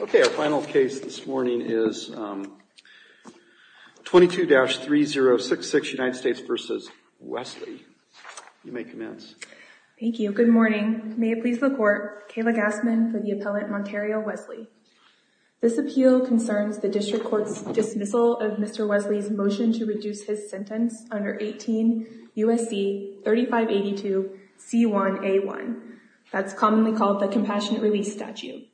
Okay, our final case this morning is 22-3066 United States v. Wesley. You may commence. Thank you. Good morning. May it please the court, Kayla Gassman for the appellant, Monterio Wesley. This appeal concerns the district court's dismissal of Mr. Wesley's motion to reduce his sentence under 18 U.S.C. 3582 C1A1. That's commonly called the compassionate release statute.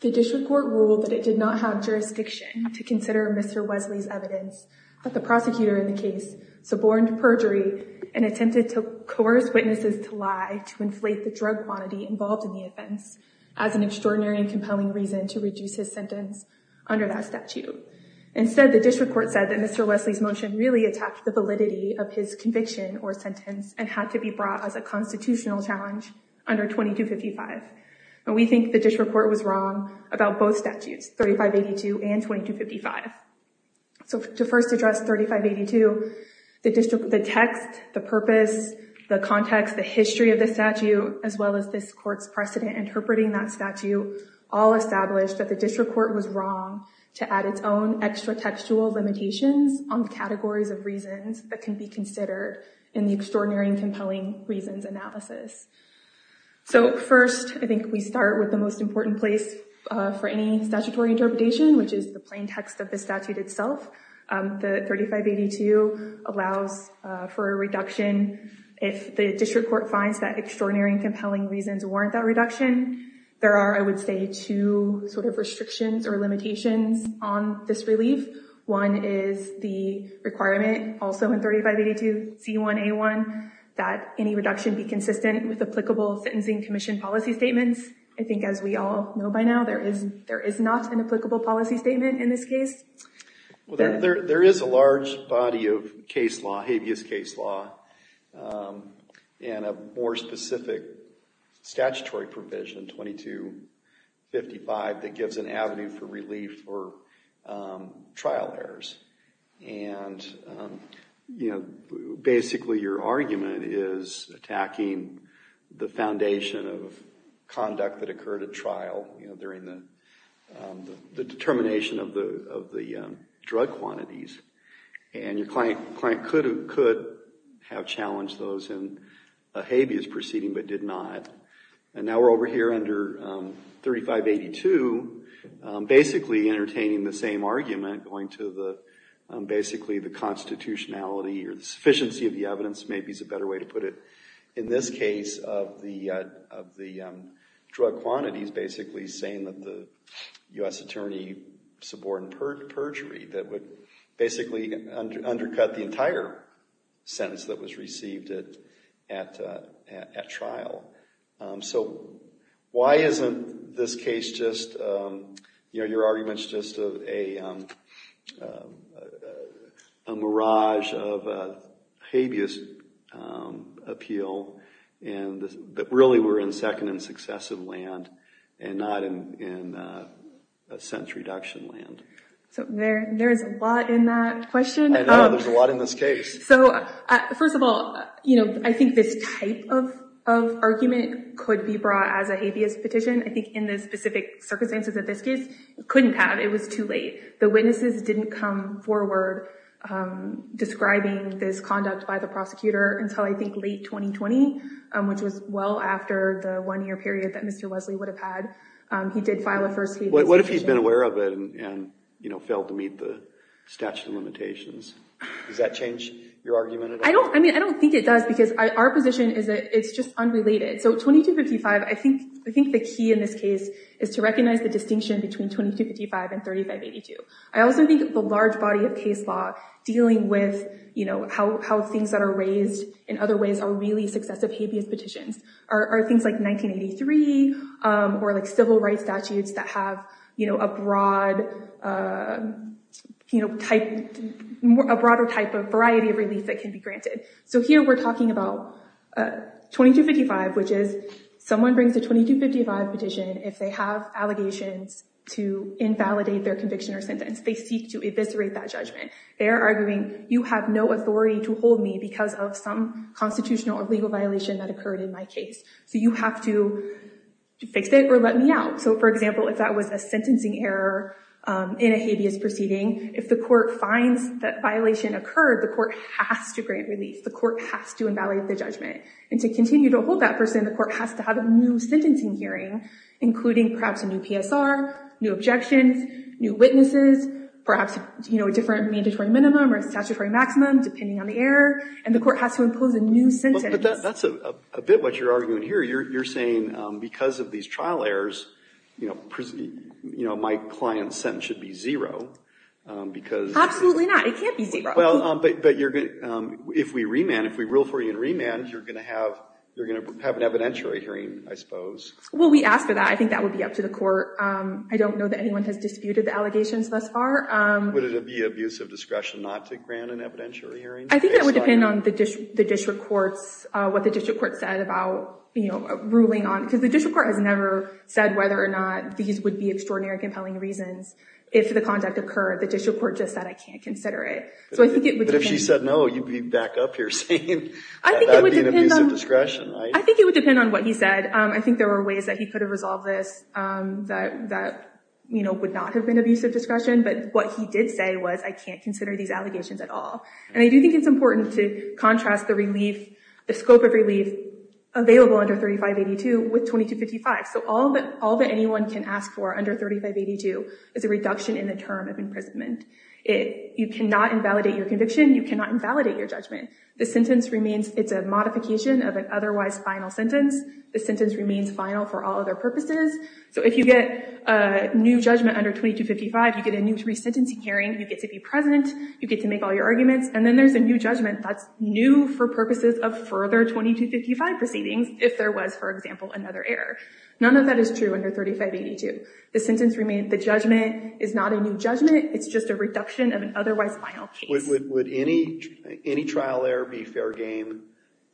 The district court ruled that it did not have jurisdiction to consider Mr. Wesley's evidence that the prosecutor in the case suborned perjury and attempted to coerce witnesses to lie to inflate the drug quantity involved in the offense as an extraordinary and compelling reason to reduce his sentence under that statute. Instead, the district court said that Mr. Wesley's motion really attacked the validity of his conviction or sentence and had to be brought as a constitutional challenge under 2255. We think the district court was wrong about both statutes, 3582 and 2255. To first address 3582, the text, the purpose, the context, the history of the statute, as well as this court's precedent interpreting that statute all established that the district court was wrong to add its own extra textual limitations on categories of reasons that can be considered in the extraordinary and compelling reasons analysis. So first, I think we start with the most important place for any statutory interpretation, which is the plain text of the statute itself. The 3582 allows for a reduction if the district court finds that extraordinary and compelling reasons warrant that reduction. There are, I would say, two sort of restrictions or limitations on this relief. One is the requirement, also in 3582 C1A1, that any reduction be consistent with applicable sentencing commission policy statements. I think as we all know by now, there is not an applicable policy statement in this case. Well, there is a large body of case law, habeas case law, and a more specific statutory provision, 2255, that gives an avenue for relief for trial errors. And, you know, basically your argument is attacking the foundation of conduct that occurred at trial, you know, during the determination of the drug quantities. And your client could have challenged those in a habeas proceeding but did not. And now we're over here under 3582, basically entertaining the same argument, going to basically the constitutionality or the sufficiency of the evidence, maybe is a better way to put it, in this case of the drug quantities, basically saying that the U.S. attorney subordinated perjury that would basically undercut the entire sentence that was received at trial. So why isn't this case just, you know, your argument's just a mirage of habeas appeal and that really we're in second successive land and not in a sense reduction land. So there is a lot in that question. I know, there's a lot in this case. So first of all, you know, I think this type of argument could be brought as a habeas petition. I think in the specific circumstances of this case, it couldn't have. It was too late. The witnesses didn't come forward describing this conduct by prosecutor until I think late 2020, which was well after the one-year period that Mr. Wesley would have had. He did file a first-degree. What if he's been aware of it and, you know, failed to meet the statute of limitations? Does that change your argument at all? I mean, I don't think it does because our position is that it's just unrelated. So 2255, I think the key in this case is to recognize the distinction between 2255 and 3582. I also think the large body of dealing with, you know, how things that are raised in other ways are really successive habeas petitions are things like 1983 or like civil rights statutes that have, you know, a broad, you know, type, a broader type of variety of relief that can be granted. So here we're talking about 2255, which is someone brings a 2255 petition. If they have allegations to invalidate their conviction or sentence, they seek to eviscerate that judgment. They're arguing, you have no authority to hold me because of some constitutional or legal violation that occurred in my case. So you have to fix it or let me out. So for example, if that was a sentencing error in a habeas proceeding, if the court finds that violation occurred, the court has to grant relief. The court has to invalidate the judgment. And to continue to hold that person, the court has to have a new sentencing hearing, including perhaps a new PSR, new objections, new witnesses, perhaps, you know, a different mandatory minimum or statutory maximum, depending on the error. And the court has to impose a new sentence. But that's a bit what you're arguing here. You're saying because of these trial errors, you know, my client's sentence should be zero because... Absolutely not. It can't be zero. Well, but you're going to, if we remand, if we rule for you in remand, you're going to have, evidentiary hearing, I suppose. Well, we asked for that. I think that would be up to the court. I don't know that anyone has disputed the allegations thus far. Would it be abuse of discretion not to grant an evidentiary hearing? I think that would depend on the district courts, what the district court said about, you know, ruling on, because the district court has never said whether or not these would be extraordinary compelling reasons if the conduct occurred. The district court just said, I can't consider it. So I think it would depend... But if she said no, you'd be back up here saying that would be an abuse of discretion. I think it would depend on what he said. I think there were ways that he could have resolved this that, you know, would not have been abuse of discretion. But what he did say was I can't consider these allegations at all. And I do think it's important to contrast the relief, the scope of relief available under 3582 with 2255. So all that anyone can ask for under 3582 is a reduction in the term of imprisonment. You cannot invalidate your conviction. You cannot invalidate your judgment. The sentence remains, it's a modification of an otherwise final sentence. The sentence remains final for all other purposes. So if you get a new judgment under 2255, you get a new three-sentencing hearing. You get to be present. You get to make all your arguments. And then there's a new judgment that's new for purposes of further 2255 proceedings, if there was, for example, another error. None of that is true under 3582. The sentence remains, the judgment is not a new judgment. It's just a reduction of an otherwise final case. Would any trial error be fair game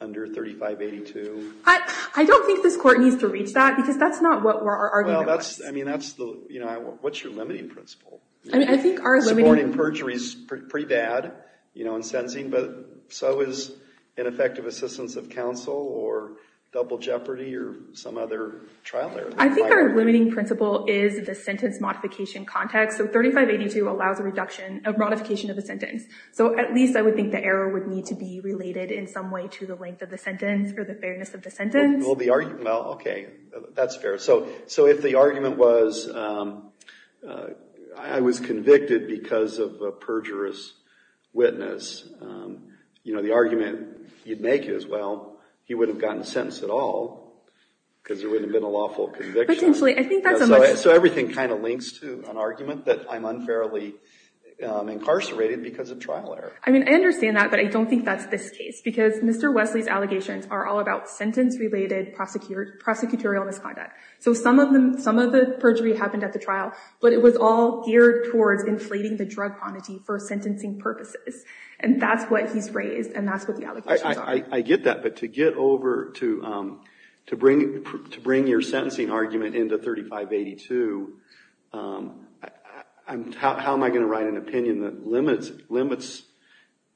under 3582? I don't think this court needs to reach that, because that's not what our argument was. I mean, that's the, you know, what's your limiting principle? I mean, I think our limiting... Suborning perjury is pretty bad, you know, in sentencing, but so is ineffective assistance of counsel or double jeopardy or some other trial error. I think our limiting principle is the sentence modification context. So 3582 allows a reduction, a modification of a sentence. So at least I would think the error would need to be related in some way to the length of the sentence or the fairness of the sentence. Well, the argument, well, okay, that's fair. So if the argument was, I was convicted because of a perjurous witness, you know, the argument you'd make is, well, he would have gotten sentenced at all, because there wouldn't have been a lawful conviction. Potentially. I think that's a much... Incarcerated because of trial error. I mean, I understand that, but I don't think that's this case, because Mr. Wesley's allegations are all about sentence-related prosecutorial misconduct. So some of them, some of the perjury happened at the trial, but it was all geared towards inflating the drug quantity for sentencing purposes. And that's what he's raised, and that's what the allegations are. I get that, but to get over, to bring your sentencing argument into 3582, how am I going to write an opinion that limits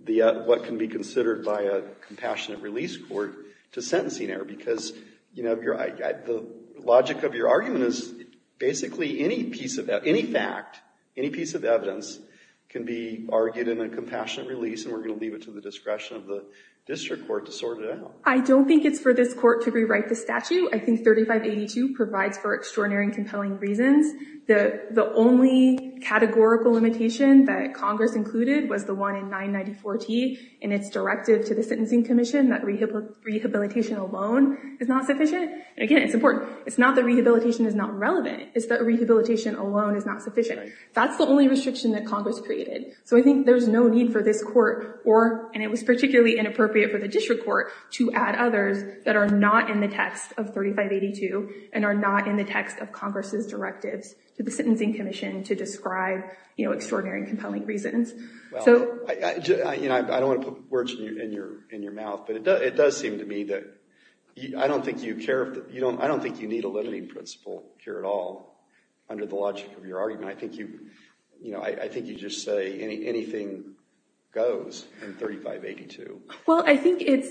what can be considered by a compassionate release court to sentencing error? Because, you know, the logic of your argument is basically any piece of, any fact, any piece of evidence can be argued in a compassionate release, and we're going to leave it to the discretion of the district court to sort it out. I don't think it's for this court to rewrite the statute. The only categorical limitation that Congress included was the one in 994T in its directive to the Sentencing Commission that rehabilitation alone is not sufficient. And again, it's important. It's not that rehabilitation is not relevant. It's that rehabilitation alone is not sufficient. That's the only restriction that Congress created. So I think there's no need for this court, or, and it was particularly inappropriate for the district court, to add others that are not in the text of 3582, and are not in the text of Congress's directives to the Sentencing Commission to describe, you know, extraordinary and compelling reasons. Well, you know, I don't want to put words in your mouth, but it does seem to me that I don't think you need a limiting principle here at all under the logic of your argument. I think you, you know, I think you just say anything goes in 3582. Well, I think it's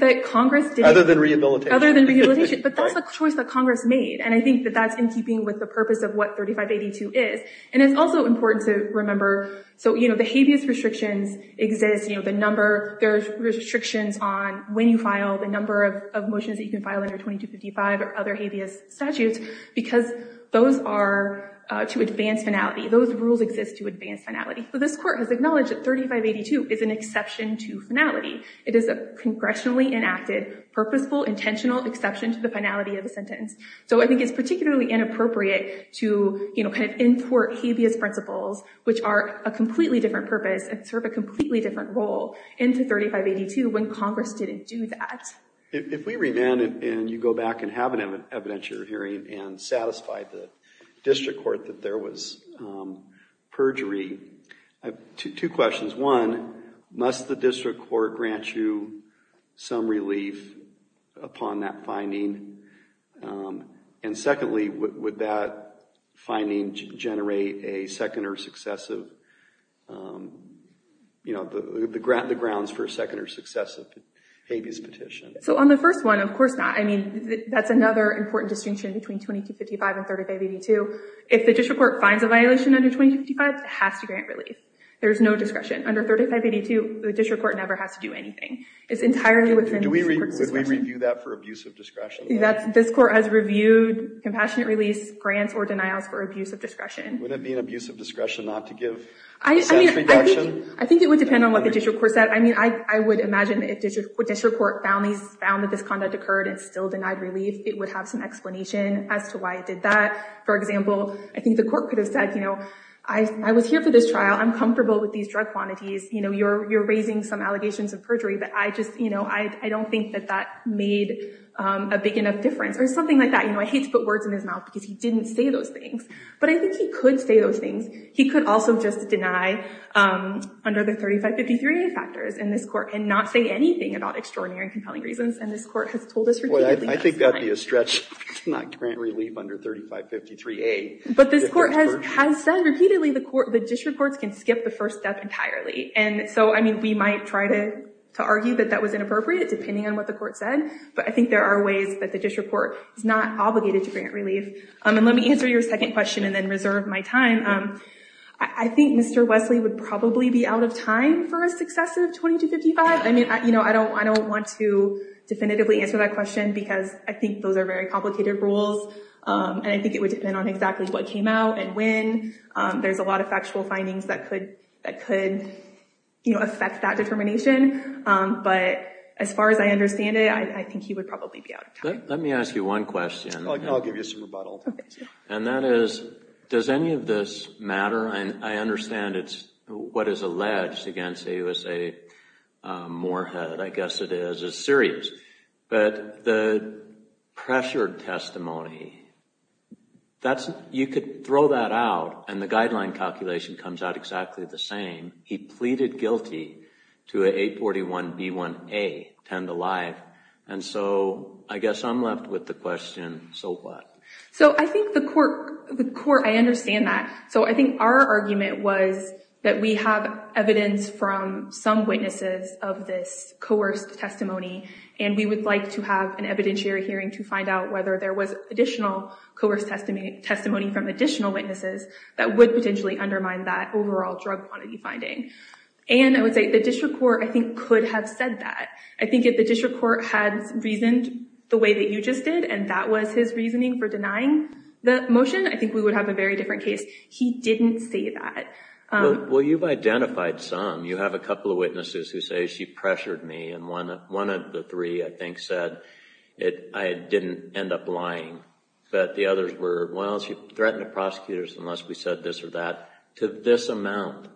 that Congress did. Other than rehabilitation. Other than rehabilitation. But that's the choice that Congress made, and I think that that's in keeping with the purpose of what 3582 is. And it's also important to remember, so, you know, the habeas restrictions exist, you know, the number, there's restrictions on when you file, the number of motions that you can file under 2255 or other habeas statutes, because those are to advance finality. Those rules exist to advance finality. So this court has acknowledged that 3582 is an exception to finality. It is a congressionally enacted, purposeful, intentional exception to the finality of a sentence. So I think it's particularly inappropriate to, you know, kind of entort habeas principles, which are a completely different purpose and serve a completely different role into 3582 when Congress didn't do that. If we revamp it and you go back and have an evidentiary hearing and satisfy the district court that there was perjury, I have two questions. One, must the district court grant you some relief upon that finding? And secondly, would that finding generate a second or successive, you know, the grounds for a second or successive habeas petition? So on the first one, of course not. I mean, that's another important distinction between 2255 and 3582. If the district court finds a violation under 2255, it has to grant relief. There's no discretion. Under 3582, the district court never has to do anything. It's entirely within the court's discretion. Do we review that for abuse of discretion? This court has reviewed compassionate release grants or denials for abuse of discretion. Would it be an abuse of discretion not to give a sense of protection? I think it would depend on what the district court said. I mean, I would imagine if district court found that this conduct occurred and still denied relief, it would have some explanation as to why it did that. For example, I think the court could have said, you know, I was here for this trial. I'm comfortable with these drug quantities. You know, you're raising some allegations of perjury. But I just, you know, I don't think that that made a big enough difference. Or something like that. You know, I hate to put words in his mouth because he didn't say those things. But I think he could say those things. He could also just deny under the 3553a factors in this court and not say anything about extraordinary and compelling reasons. And this court has told us repeatedly that's fine. I think that'd be a stretch to not grant relief under 3553a. But this court has said repeatedly the district courts can skip the first step entirely. And so, I mean, we might try to argue that that was inappropriate, depending on what the court said. But I think there are ways that the district court is not obligated to grant relief. And let me answer your second question and then reserve my time. I think Mr. Wesley would probably be out of time for a successive 2255. I mean, you know, I don't want to definitively answer that question because I think those are very complicated rules. And I think it would depend on exactly what came out and when. There's a lot of factual findings that could, you know, affect that determination. But as far as I understand it, I think he would probably be out of time. Let me ask you one question. I'll give you some rebuttal. And that is, does any of this matter? And I understand it's what is alleged against AUSA Moorhead, I guess it is, is serious. But the pressured testimony, that's, you could throw that out and the guideline calculation comes out exactly the same. He pleaded guilty to a 841B1A, 10 to live. And so I guess I'm left with the question, so what? So I think the court, I understand that. So I think our argument was that we have evidence from some witnesses of this coerced testimony and we would like to have an evidentiary hearing to find out whether there was additional coerced testimony from additional witnesses that would potentially undermine that overall drug quantity finding. And I would say the district court, I think, could have said that. I think if the district court had reasoned the way that you just did and that was his reasoning for denying the motion, I think we would have a very different case. He didn't say that. Well, you've identified some. You have a couple of witnesses who say she pressured me and one of the three, I think, said I didn't end up lying. But the others were, well, she threatened the prosecutors unless we said this or that. To this amount,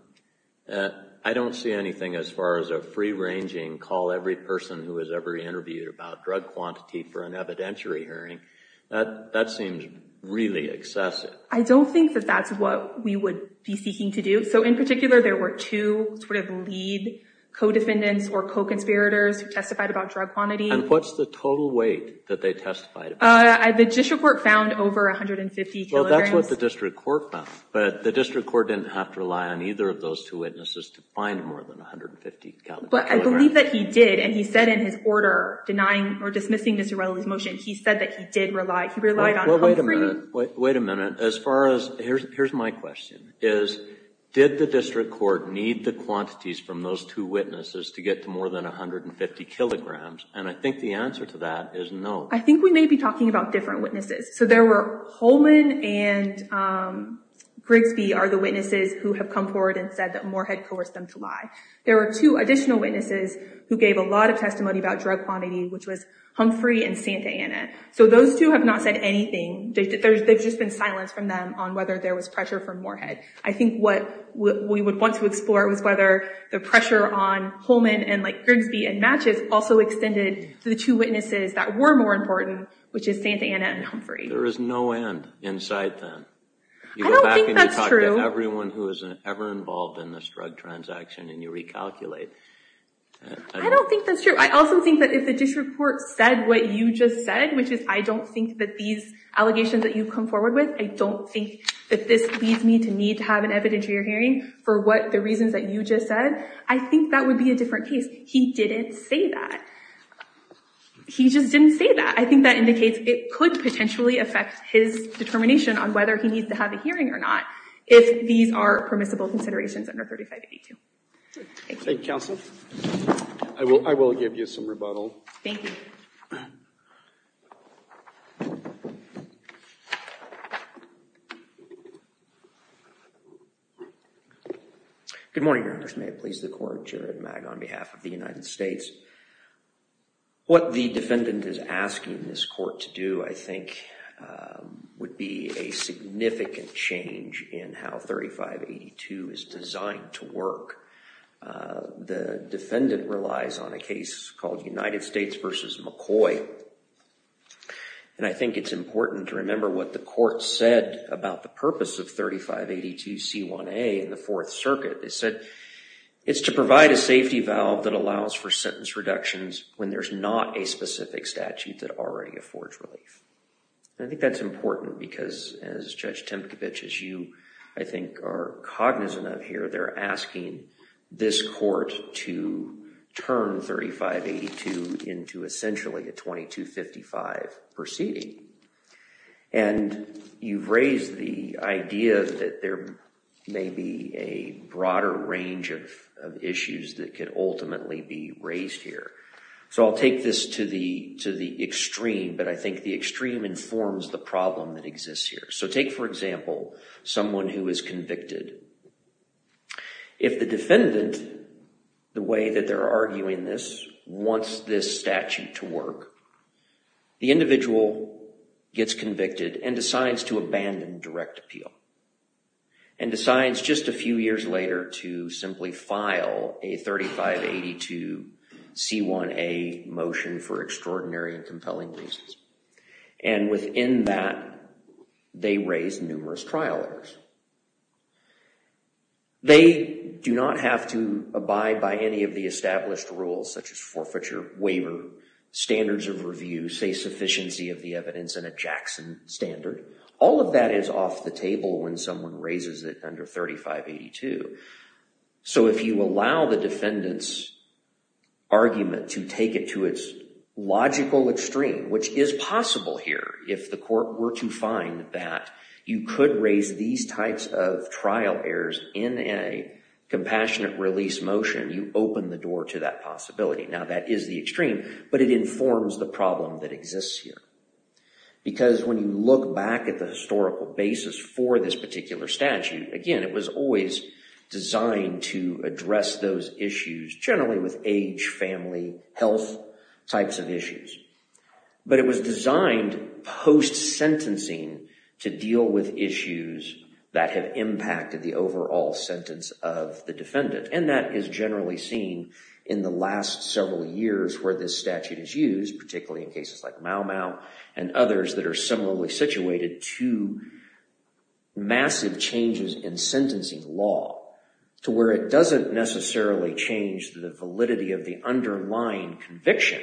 I don't see anything as far as a free-ranging call every person who has ever interviewed about drug quantity for an evidentiary hearing. That seems really excessive. I don't think that that's what we would be seeking to do. So in particular, there were two sort of lead co-defendants or co-conspirators who testified about drug quantity. And what's the total weight that they testified about? The district court found over 150 kilograms. Well, that's what the district court found. But the district court didn't have to rely on either of those two witnesses to find more than 150 kilograms. But I believe that he did. And he said in his order denying or dismissing Ms. Urela's motion, he said that he did rely. He relied on Humphrey. Well, wait a minute. Wait a minute. Here's my question. Did the district court need the quantities from those two witnesses to get to more than 150 kilograms? And I think the answer to that is no. I think we may be talking about different witnesses. So there were Holman and Grigsby are the witnesses who have come forward and said that Moore had coerced them to lie. There were two additional witnesses who gave a lot of testimony about drug quantity, which was Humphrey and Santa Anna. So those two have not said anything. There's just been silence from them on whether there was pressure from Moorhead. I think what we would want to explore was whether the pressure on Holman and Grigsby and Matches also extended to the two witnesses that were more important, which is Santa Anna and Humphrey. There is no end in sight then. I don't think that's true. You go back and you talk to everyone who was ever involved in this drug transaction and you recalculate. I don't think that's true. I also think that if the district court said what you just said, I don't think that these allegations that you've come forward with, I don't think that this leads me to need to have an evidence of your hearing for the reasons that you just said, I think that would be a different case. He didn't say that. He just didn't say that. I think that indicates it could potentially affect his determination on whether he needs to have a hearing or not if these are permissible considerations under 3582. Thank you. Thank you, counsel. I will give you some rebuttal. Thank you. Good morning, Your Honors. May it please the court. Jared Magg on behalf of the United States. What the defendant is asking this court to do, I think, would be a significant change in how 3582 is designed to work. The defendant relies on a case called United States v. McCoy. And I think it's important to remember what the court said about the purpose of 3582C1A in the Fourth Circuit. They said it's to provide a safety valve that allows for sentence reductions when there's not a specific statute that already affords relief. I think that's important because as Judge Tempkowicz, as you, I think, are cognizant of here, they're asking this court to turn 3582 into essentially a 2255 proceeding. And you've raised the idea that there may be a broader range of issues that could ultimately be raised here. So I'll take this to the extreme. But I think the extreme informs the problem that exists here. So take, for example, someone who is convicted. If the defendant, the way that they're arguing this, wants this statute to work, the individual gets convicted and decides to abandon direct appeal and decides just a few years later to simply file a 3582C1A motion for extraordinary and compelling reasons. And within that, they raise numerous trial errors. They do not have to abide by any of the established rules, such as forfeiture, waiver, standards of review, say, sufficiency of the evidence, and a Jackson standard. All of that is off the table when someone raises it under 3582. So if you allow the defendant's argument to take it to its logical extreme, which is possible here if the court were to find that you could raise these types of trial errors in a compassionate release motion, you open the door to that possibility. Now, that is the extreme, but it informs the problem that exists here. Because when you look back at the historical basis for this particular statute, again, it was always designed to address those issues generally with age, family, health types of issues. But it was designed post-sentencing to deal with issues that have impacted the overall sentence of the defendant. And that is generally seen in the last several years where this statute is used, particularly in cases like Mau Mau and others that are similarly situated to massive changes in sentencing law, to where it doesn't necessarily change the validity of the underlying conviction,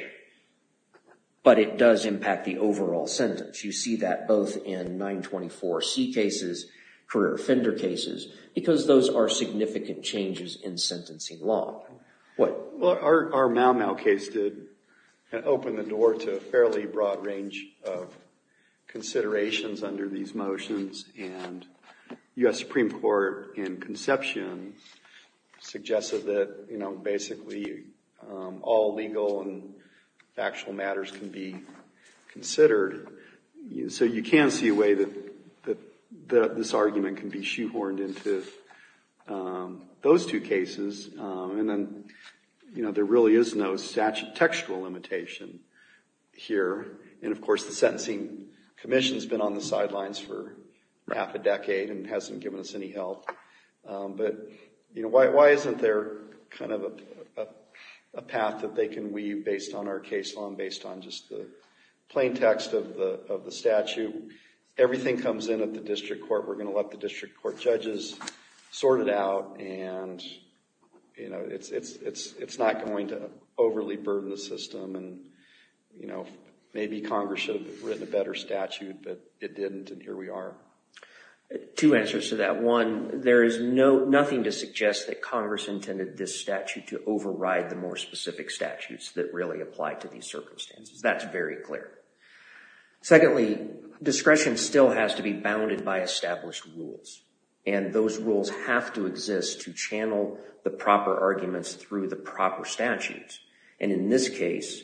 but it does impact the overall sentence. You see that both in 924C cases, career offender cases, because those are significant changes in sentencing law. What? Well, our Mau Mau case did open the door to a fairly broad range of considerations under these motions. And U.S. Supreme Court in conception suggested that, you know, all legal and factual matters can be considered. So you can see a way that this argument can be shoehorned into those two cases. And then, you know, there really is no textual limitation here. And of course, the Sentencing Commission has been on the sidelines for half a decade and hasn't given us any help. But, you know, why isn't there kind of a path that they can weave based on our case law and based on just the plain text of the statute? Everything comes in at the district court. We're going to let the district court judges sort it out. And, you know, it's not going to overly burden the system. And, you know, maybe Congress should have written a better statute, but it didn't and here we are. Two answers to that. One, there is nothing to suggest that Congress intended this statute to override the more specific statutes that really apply to these circumstances. That's very clear. Secondly, discretion still has to be bounded by established rules. And those rules have to exist to channel the proper arguments through the proper statutes. And in this case,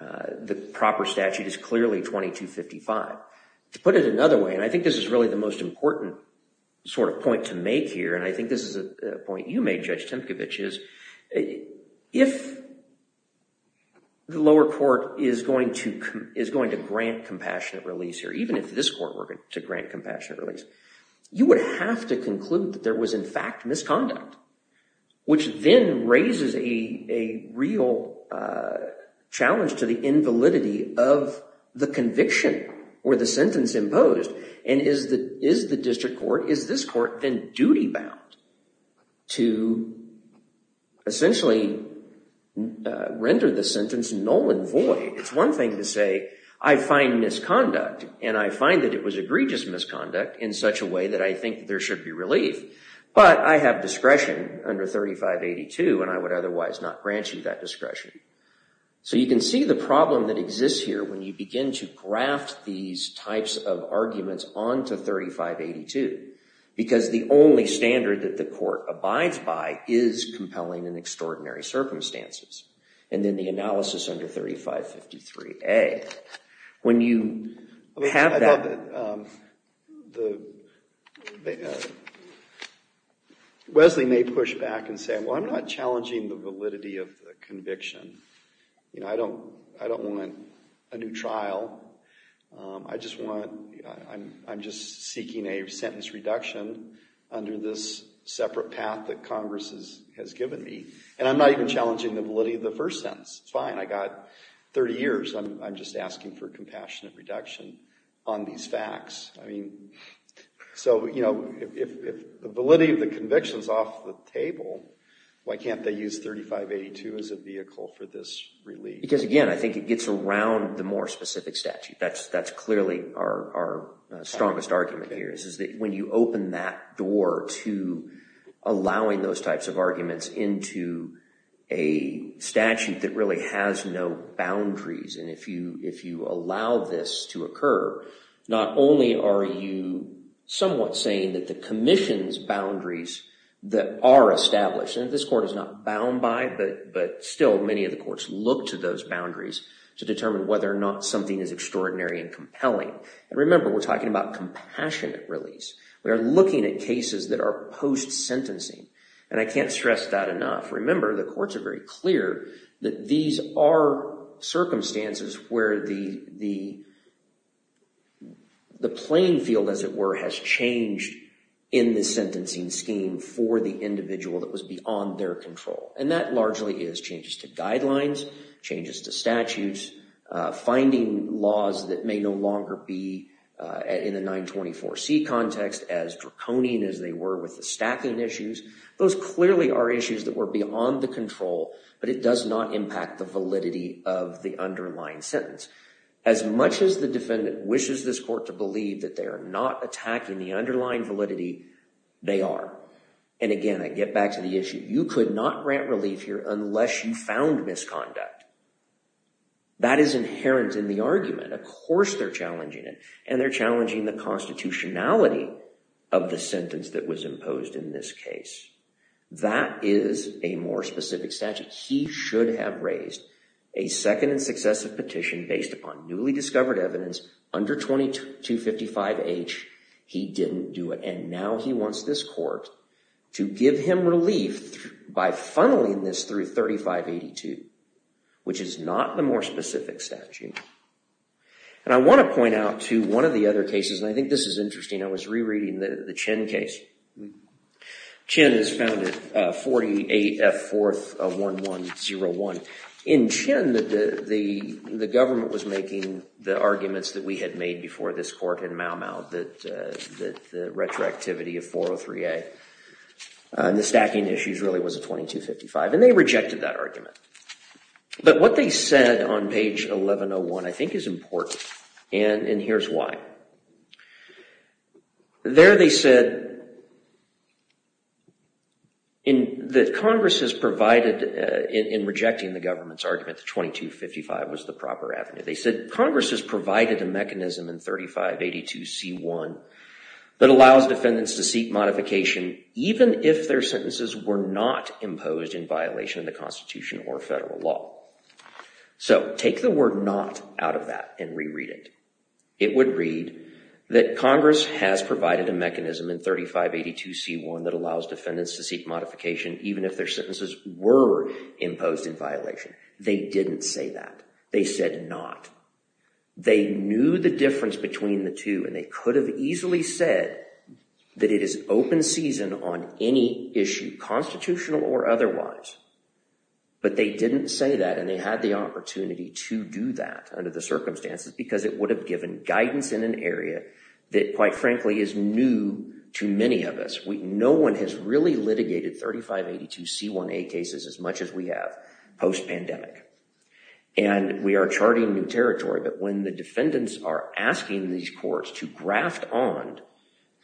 the proper statute is clearly 2255. To put it another way, and I think this is really the most important sort of point to make here, and I think this is a point you made, Judge Tempkowicz, is if the lower court is going to grant compassionate release here, even if this court were to grant compassionate release, you would have to conclude that there was, in fact, misconduct, which then raises a real challenge to the invalidity of the conviction or the sentence imposed. And is the district court, is this court then duty-bound to essentially render the sentence null and void? It's one thing to say, I find misconduct and I find that it was egregious misconduct in such a way that I think there should be relief, but I have discretion under 3582 and I would otherwise not grant you that discretion. So you can see the problem that exists here when you begin to graft these types of arguments onto 3582, because the only standard that the court abides by is compelling and extraordinary circumstances. And then the analysis under 3553A, when you have that... Wesley may push back and say, well, I'm not challenging the validity of the conviction. You know, I don't want a new trial. I'm just seeking a sentence reduction under this separate path that Congress has given me. And I'm not even challenging the validity of the first sentence. It's fine. I got 30 years. I'm just asking for compassionate reduction on these facts. I mean, so, you know, if the validity of the conviction is off the table, why can't they use 3582 as a vehicle for this relief? Because again, I think it gets around the more specific statute. That's clearly our strongest argument here, is that when you open that door to allowing those types of arguments into a statute that really has no boundaries, and if you allow this to occur, not only are you somewhat saying that the commission's boundaries that are established, and this court is not bound by, but still many of the courts look to those boundaries to determine whether or not something is extraordinary and compelling. And remember, we're talking about compassionate release. We are looking at cases that are post-sentencing. And I can't stress that enough. Remember, the courts are very clear that these are circumstances where the playing field, as it were, has changed in the sentencing scheme for the individual that was beyond their control. And that largely is changes to guidelines, changes to statutes, finding laws that may no longer be in the 924C context as draconian as they were with the stacking issues. Those clearly are issues that were beyond the control, but it does not impact the validity of the underlying sentence. As much as the defendant wishes this court to believe that they are not attacking the underlying validity, they are. And again, I get back to the issue. You could not grant relief here unless you found misconduct. That is inherent in the argument. Of course, they're challenging it. And they're challenging the constitutionality of the sentence that was imposed in this case. That is a more specific statute. He should have raised a second and successive petition based upon newly discovered evidence under 2255H. He didn't do it. And now he wants this court to give him relief by funneling this through 3582, which is not the more specific statute. And I want to point out to one of the other cases, and I think this is interesting. I was rereading the Chin case. Chin is found at 48F 4th of 1101. In Chin, the government was making the arguments that we had made before this court in Mau Mau that the retroactivity of 403A and the stacking issues really was a 2255. And they rejected that argument. But what they said on page 1101, I think, is important. And here's why. There they said that Congress has provided in rejecting the government's argument that 2255 was the proper avenue. They said, Congress has provided a mechanism in 3582C1 that allows defendants to seek modification even if their sentences were not imposed in violation of the Constitution or federal law. So take the word not out of that and reread it. It would read that Congress has provided a mechanism in 3582C1 that allows defendants to seek modification even if their sentences were imposed in violation. They didn't say that. They said not. They knew the difference between the two and they could have easily said that it is open season on any issue, constitutional or otherwise. But they didn't say that and they had the opportunity to do that under the circumstances because it would have given guidance in an area that, quite frankly, is new to many of us. No one has really litigated 3582C1A cases as much as we have post-pandemic. And we are charting new territory, but when the defendants are asking these courts to graft on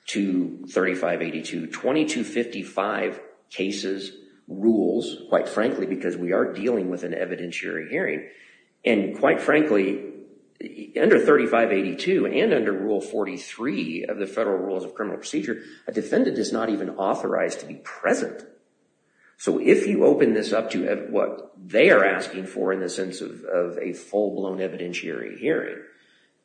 to 3582, 2255 cases rules, quite frankly, because we are dealing with an evidentiary hearing. And quite frankly, under 3582 and under Rule 43 of the Federal Rules of Criminal Procedure, a defendant is not even authorized to be present. So if you open this up to what they are asking for in the sense of a full-blown evidentiary hearing,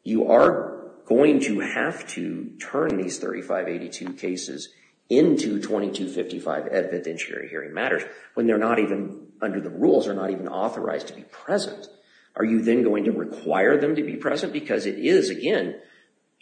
you are going to have to turn these 3582 cases into 2255 evidentiary hearing matters when they're not even under the rules, are not even authorized to be present. Are you then going to require them to be present? Because it is, again,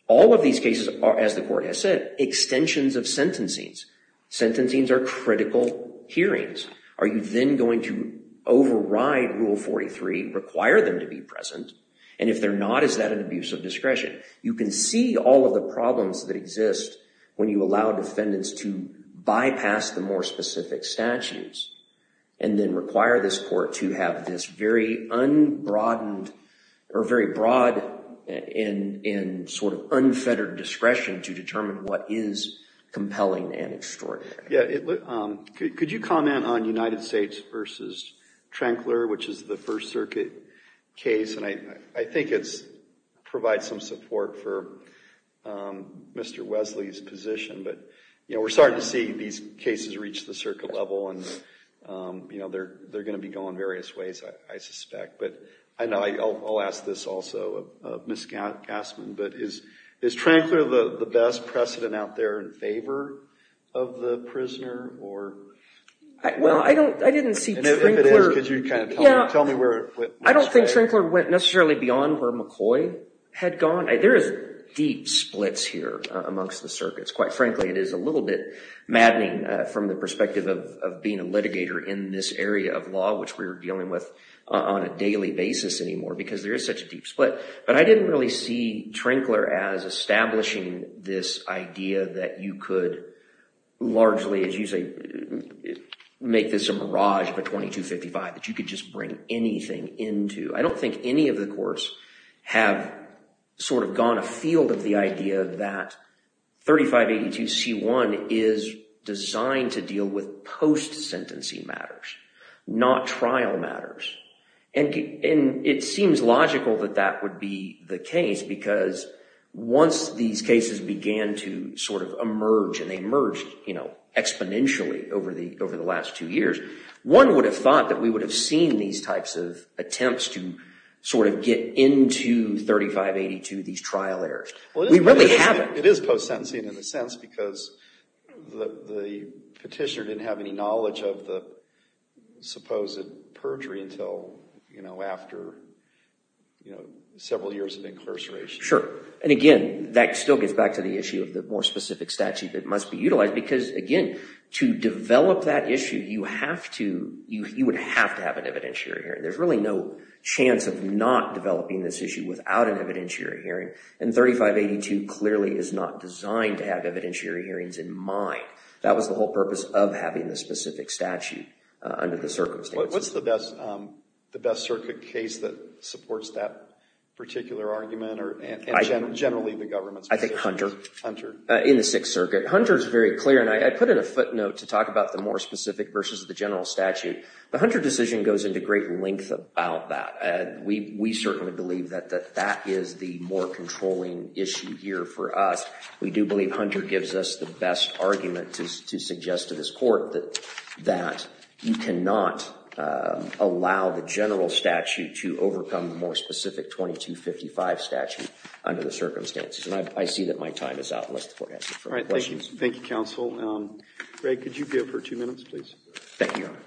all of these cases are, as the court has said, extensions of sentencings. Sentencings are critical hearings. Are you then going to override Rule 43, require them to be present? And if they're not, is that an abuse of discretion? You can see all of the problems that exist when you allow defendants to bypass the more specific statutes and then require this court to have this very unbroadened or very broad and sort of unfettered discretion to determine what is compelling and extraordinary. Yeah, could you comment on United States versus Trankler, which is the First Circuit case? And I think it provides some support for Mr. Wesley's position. But we're starting to see these cases reach the circuit level. And they're going to be going various ways, I suspect. But I know I'll ask this also of Ms. Gassman, but is Trankler the best precedent out there in favor of the prisoner? Well, I didn't see Trankler. And if it is, could you kind of tell me where it went? I don't think Trankler went necessarily beyond where McCoy had gone. There is deep splits here amongst the circuits. Quite frankly, it is a little bit maddening from the perspective of being a litigator in this area of law, which we're dealing with on a daily basis anymore, because there is such a deep split. But I didn't really see Trankler as establishing this idea that you could largely, as you say, make this a mirage of a 2255, that you could just bring anything into. I don't think any of the courts have sort of gone afield of the idea that 3582c1 is designed to deal with post-sentencing matters, not trial matters. And it seems logical that that would be the case, because once these cases began to sort of emerge, and they emerged exponentially over the last two years, one would have thought that we would have seen these types of attempts to sort of get into 3582, these trial errors. We really haven't. It is post-sentencing in a sense, because the petitioner didn't have any knowledge of the supposed perjury until after several years of incarceration. Sure. And again, that still gets back to the issue of the more specific statute that must be utilized. Because again, to develop that issue, you would have to have an evidentiary hearing. There's really no chance of not developing this issue without an evidentiary hearing. And 3582 clearly is not designed to have evidentiary hearings in mind. That was the whole purpose of having the specific statute under the circumstances. What's the best circuit case that supports that particular argument, or generally the government's position? I think Hunter. Hunter. In the Sixth Circuit. Hunter is very clear. And I put in a footnote to talk about the more specific versus the general statute. The Hunter decision goes into great length about that. We certainly believe that that is the more controlling issue here for us. We do believe Hunter gives us the best argument to suggest to this court that you cannot allow the general statute to overcome the more specific 2255 statute under the circumstances. And I see that my time is out, unless the court has any further questions. Thank you, counsel. Greg, could you be up for two minutes, please? Thank you, Your Honor.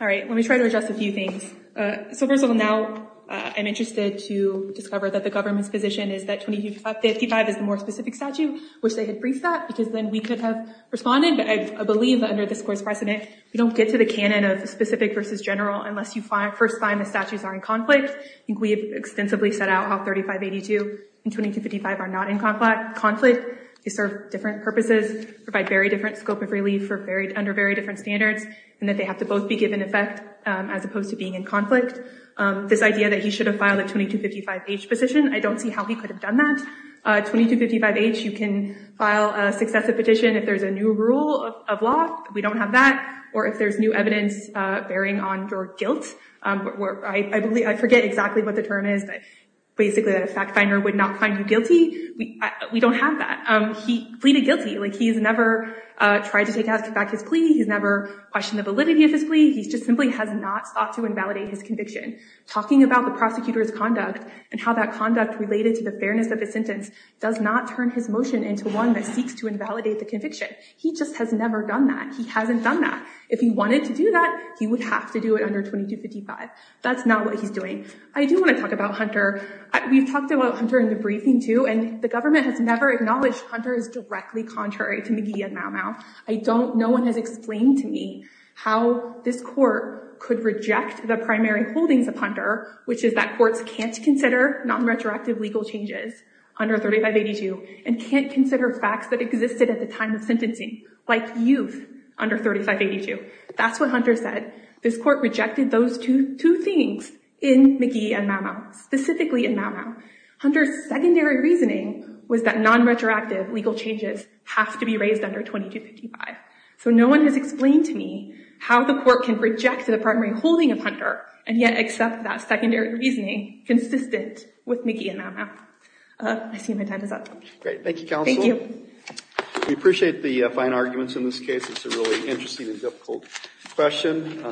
All right. Let me try to address a few things. So first of all, now I'm interested to discover that the government's position is that 2255 is the more specific statute. Wish they had briefed that, because then we could have responded. But I believe that under this court's precedent, we don't get to the canon of the specific versus general unless you first find the statutes are in conflict. I think we have extensively set out how 3582 and 2255 are not in conflict. They serve different purposes, provide very different scope of relief for very different standards, and that they have to both be given effect as opposed to being in conflict. This idea that he should have filed a 2255-H position, I don't see how he could have done that. 2255-H, you can file a successive petition if there's a new rule of law. We don't have that. Or if there's new evidence bearing on your guilt. I forget exactly what the term is, but basically that a fact finder would not find you guilty. We don't have that. He pleaded guilty. He's never tried to take back his plea. He's never questioned the validity of his plea. He just simply has not sought to invalidate his conviction. Talking about the prosecutor's conduct and how that conduct related to the fairness of his sentence does not turn his motion into one that seeks to invalidate the conviction. He just has never done that. He hasn't done that. If he wanted to do that, he would have to do it under 2255. That's not what he's doing. I do want to talk about Hunter. We've talked about Hunter in the briefing, too. And the government has never acknowledged Hunter is directly contrary to McGee and Mau-Mau. No one has explained to me how this court could reject the primary holdings of Hunter, which is that courts can't consider non-retroactive legal changes under 3582 and can't consider facts that existed at the time of sentencing, like youth under 3582. That's what Hunter said. This court rejected those two things in McGee and Mau-Mau, specifically in Mau-Mau. Hunter's secondary reasoning was that non-retroactive legal changes have to be raised under 2255. So no one has explained to me how the court can reject the primary holding of Hunter and yet accept that secondary reasoning consistent with McGee and Mau-Mau. I see my time is up. Great. Thank you, counsel. Thank you. We appreciate the fine arguments in this case. It's a really interesting and difficult question.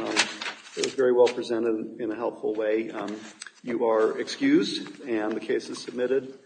It was very well presented in a helpful way. You are excused, and the case is submitted.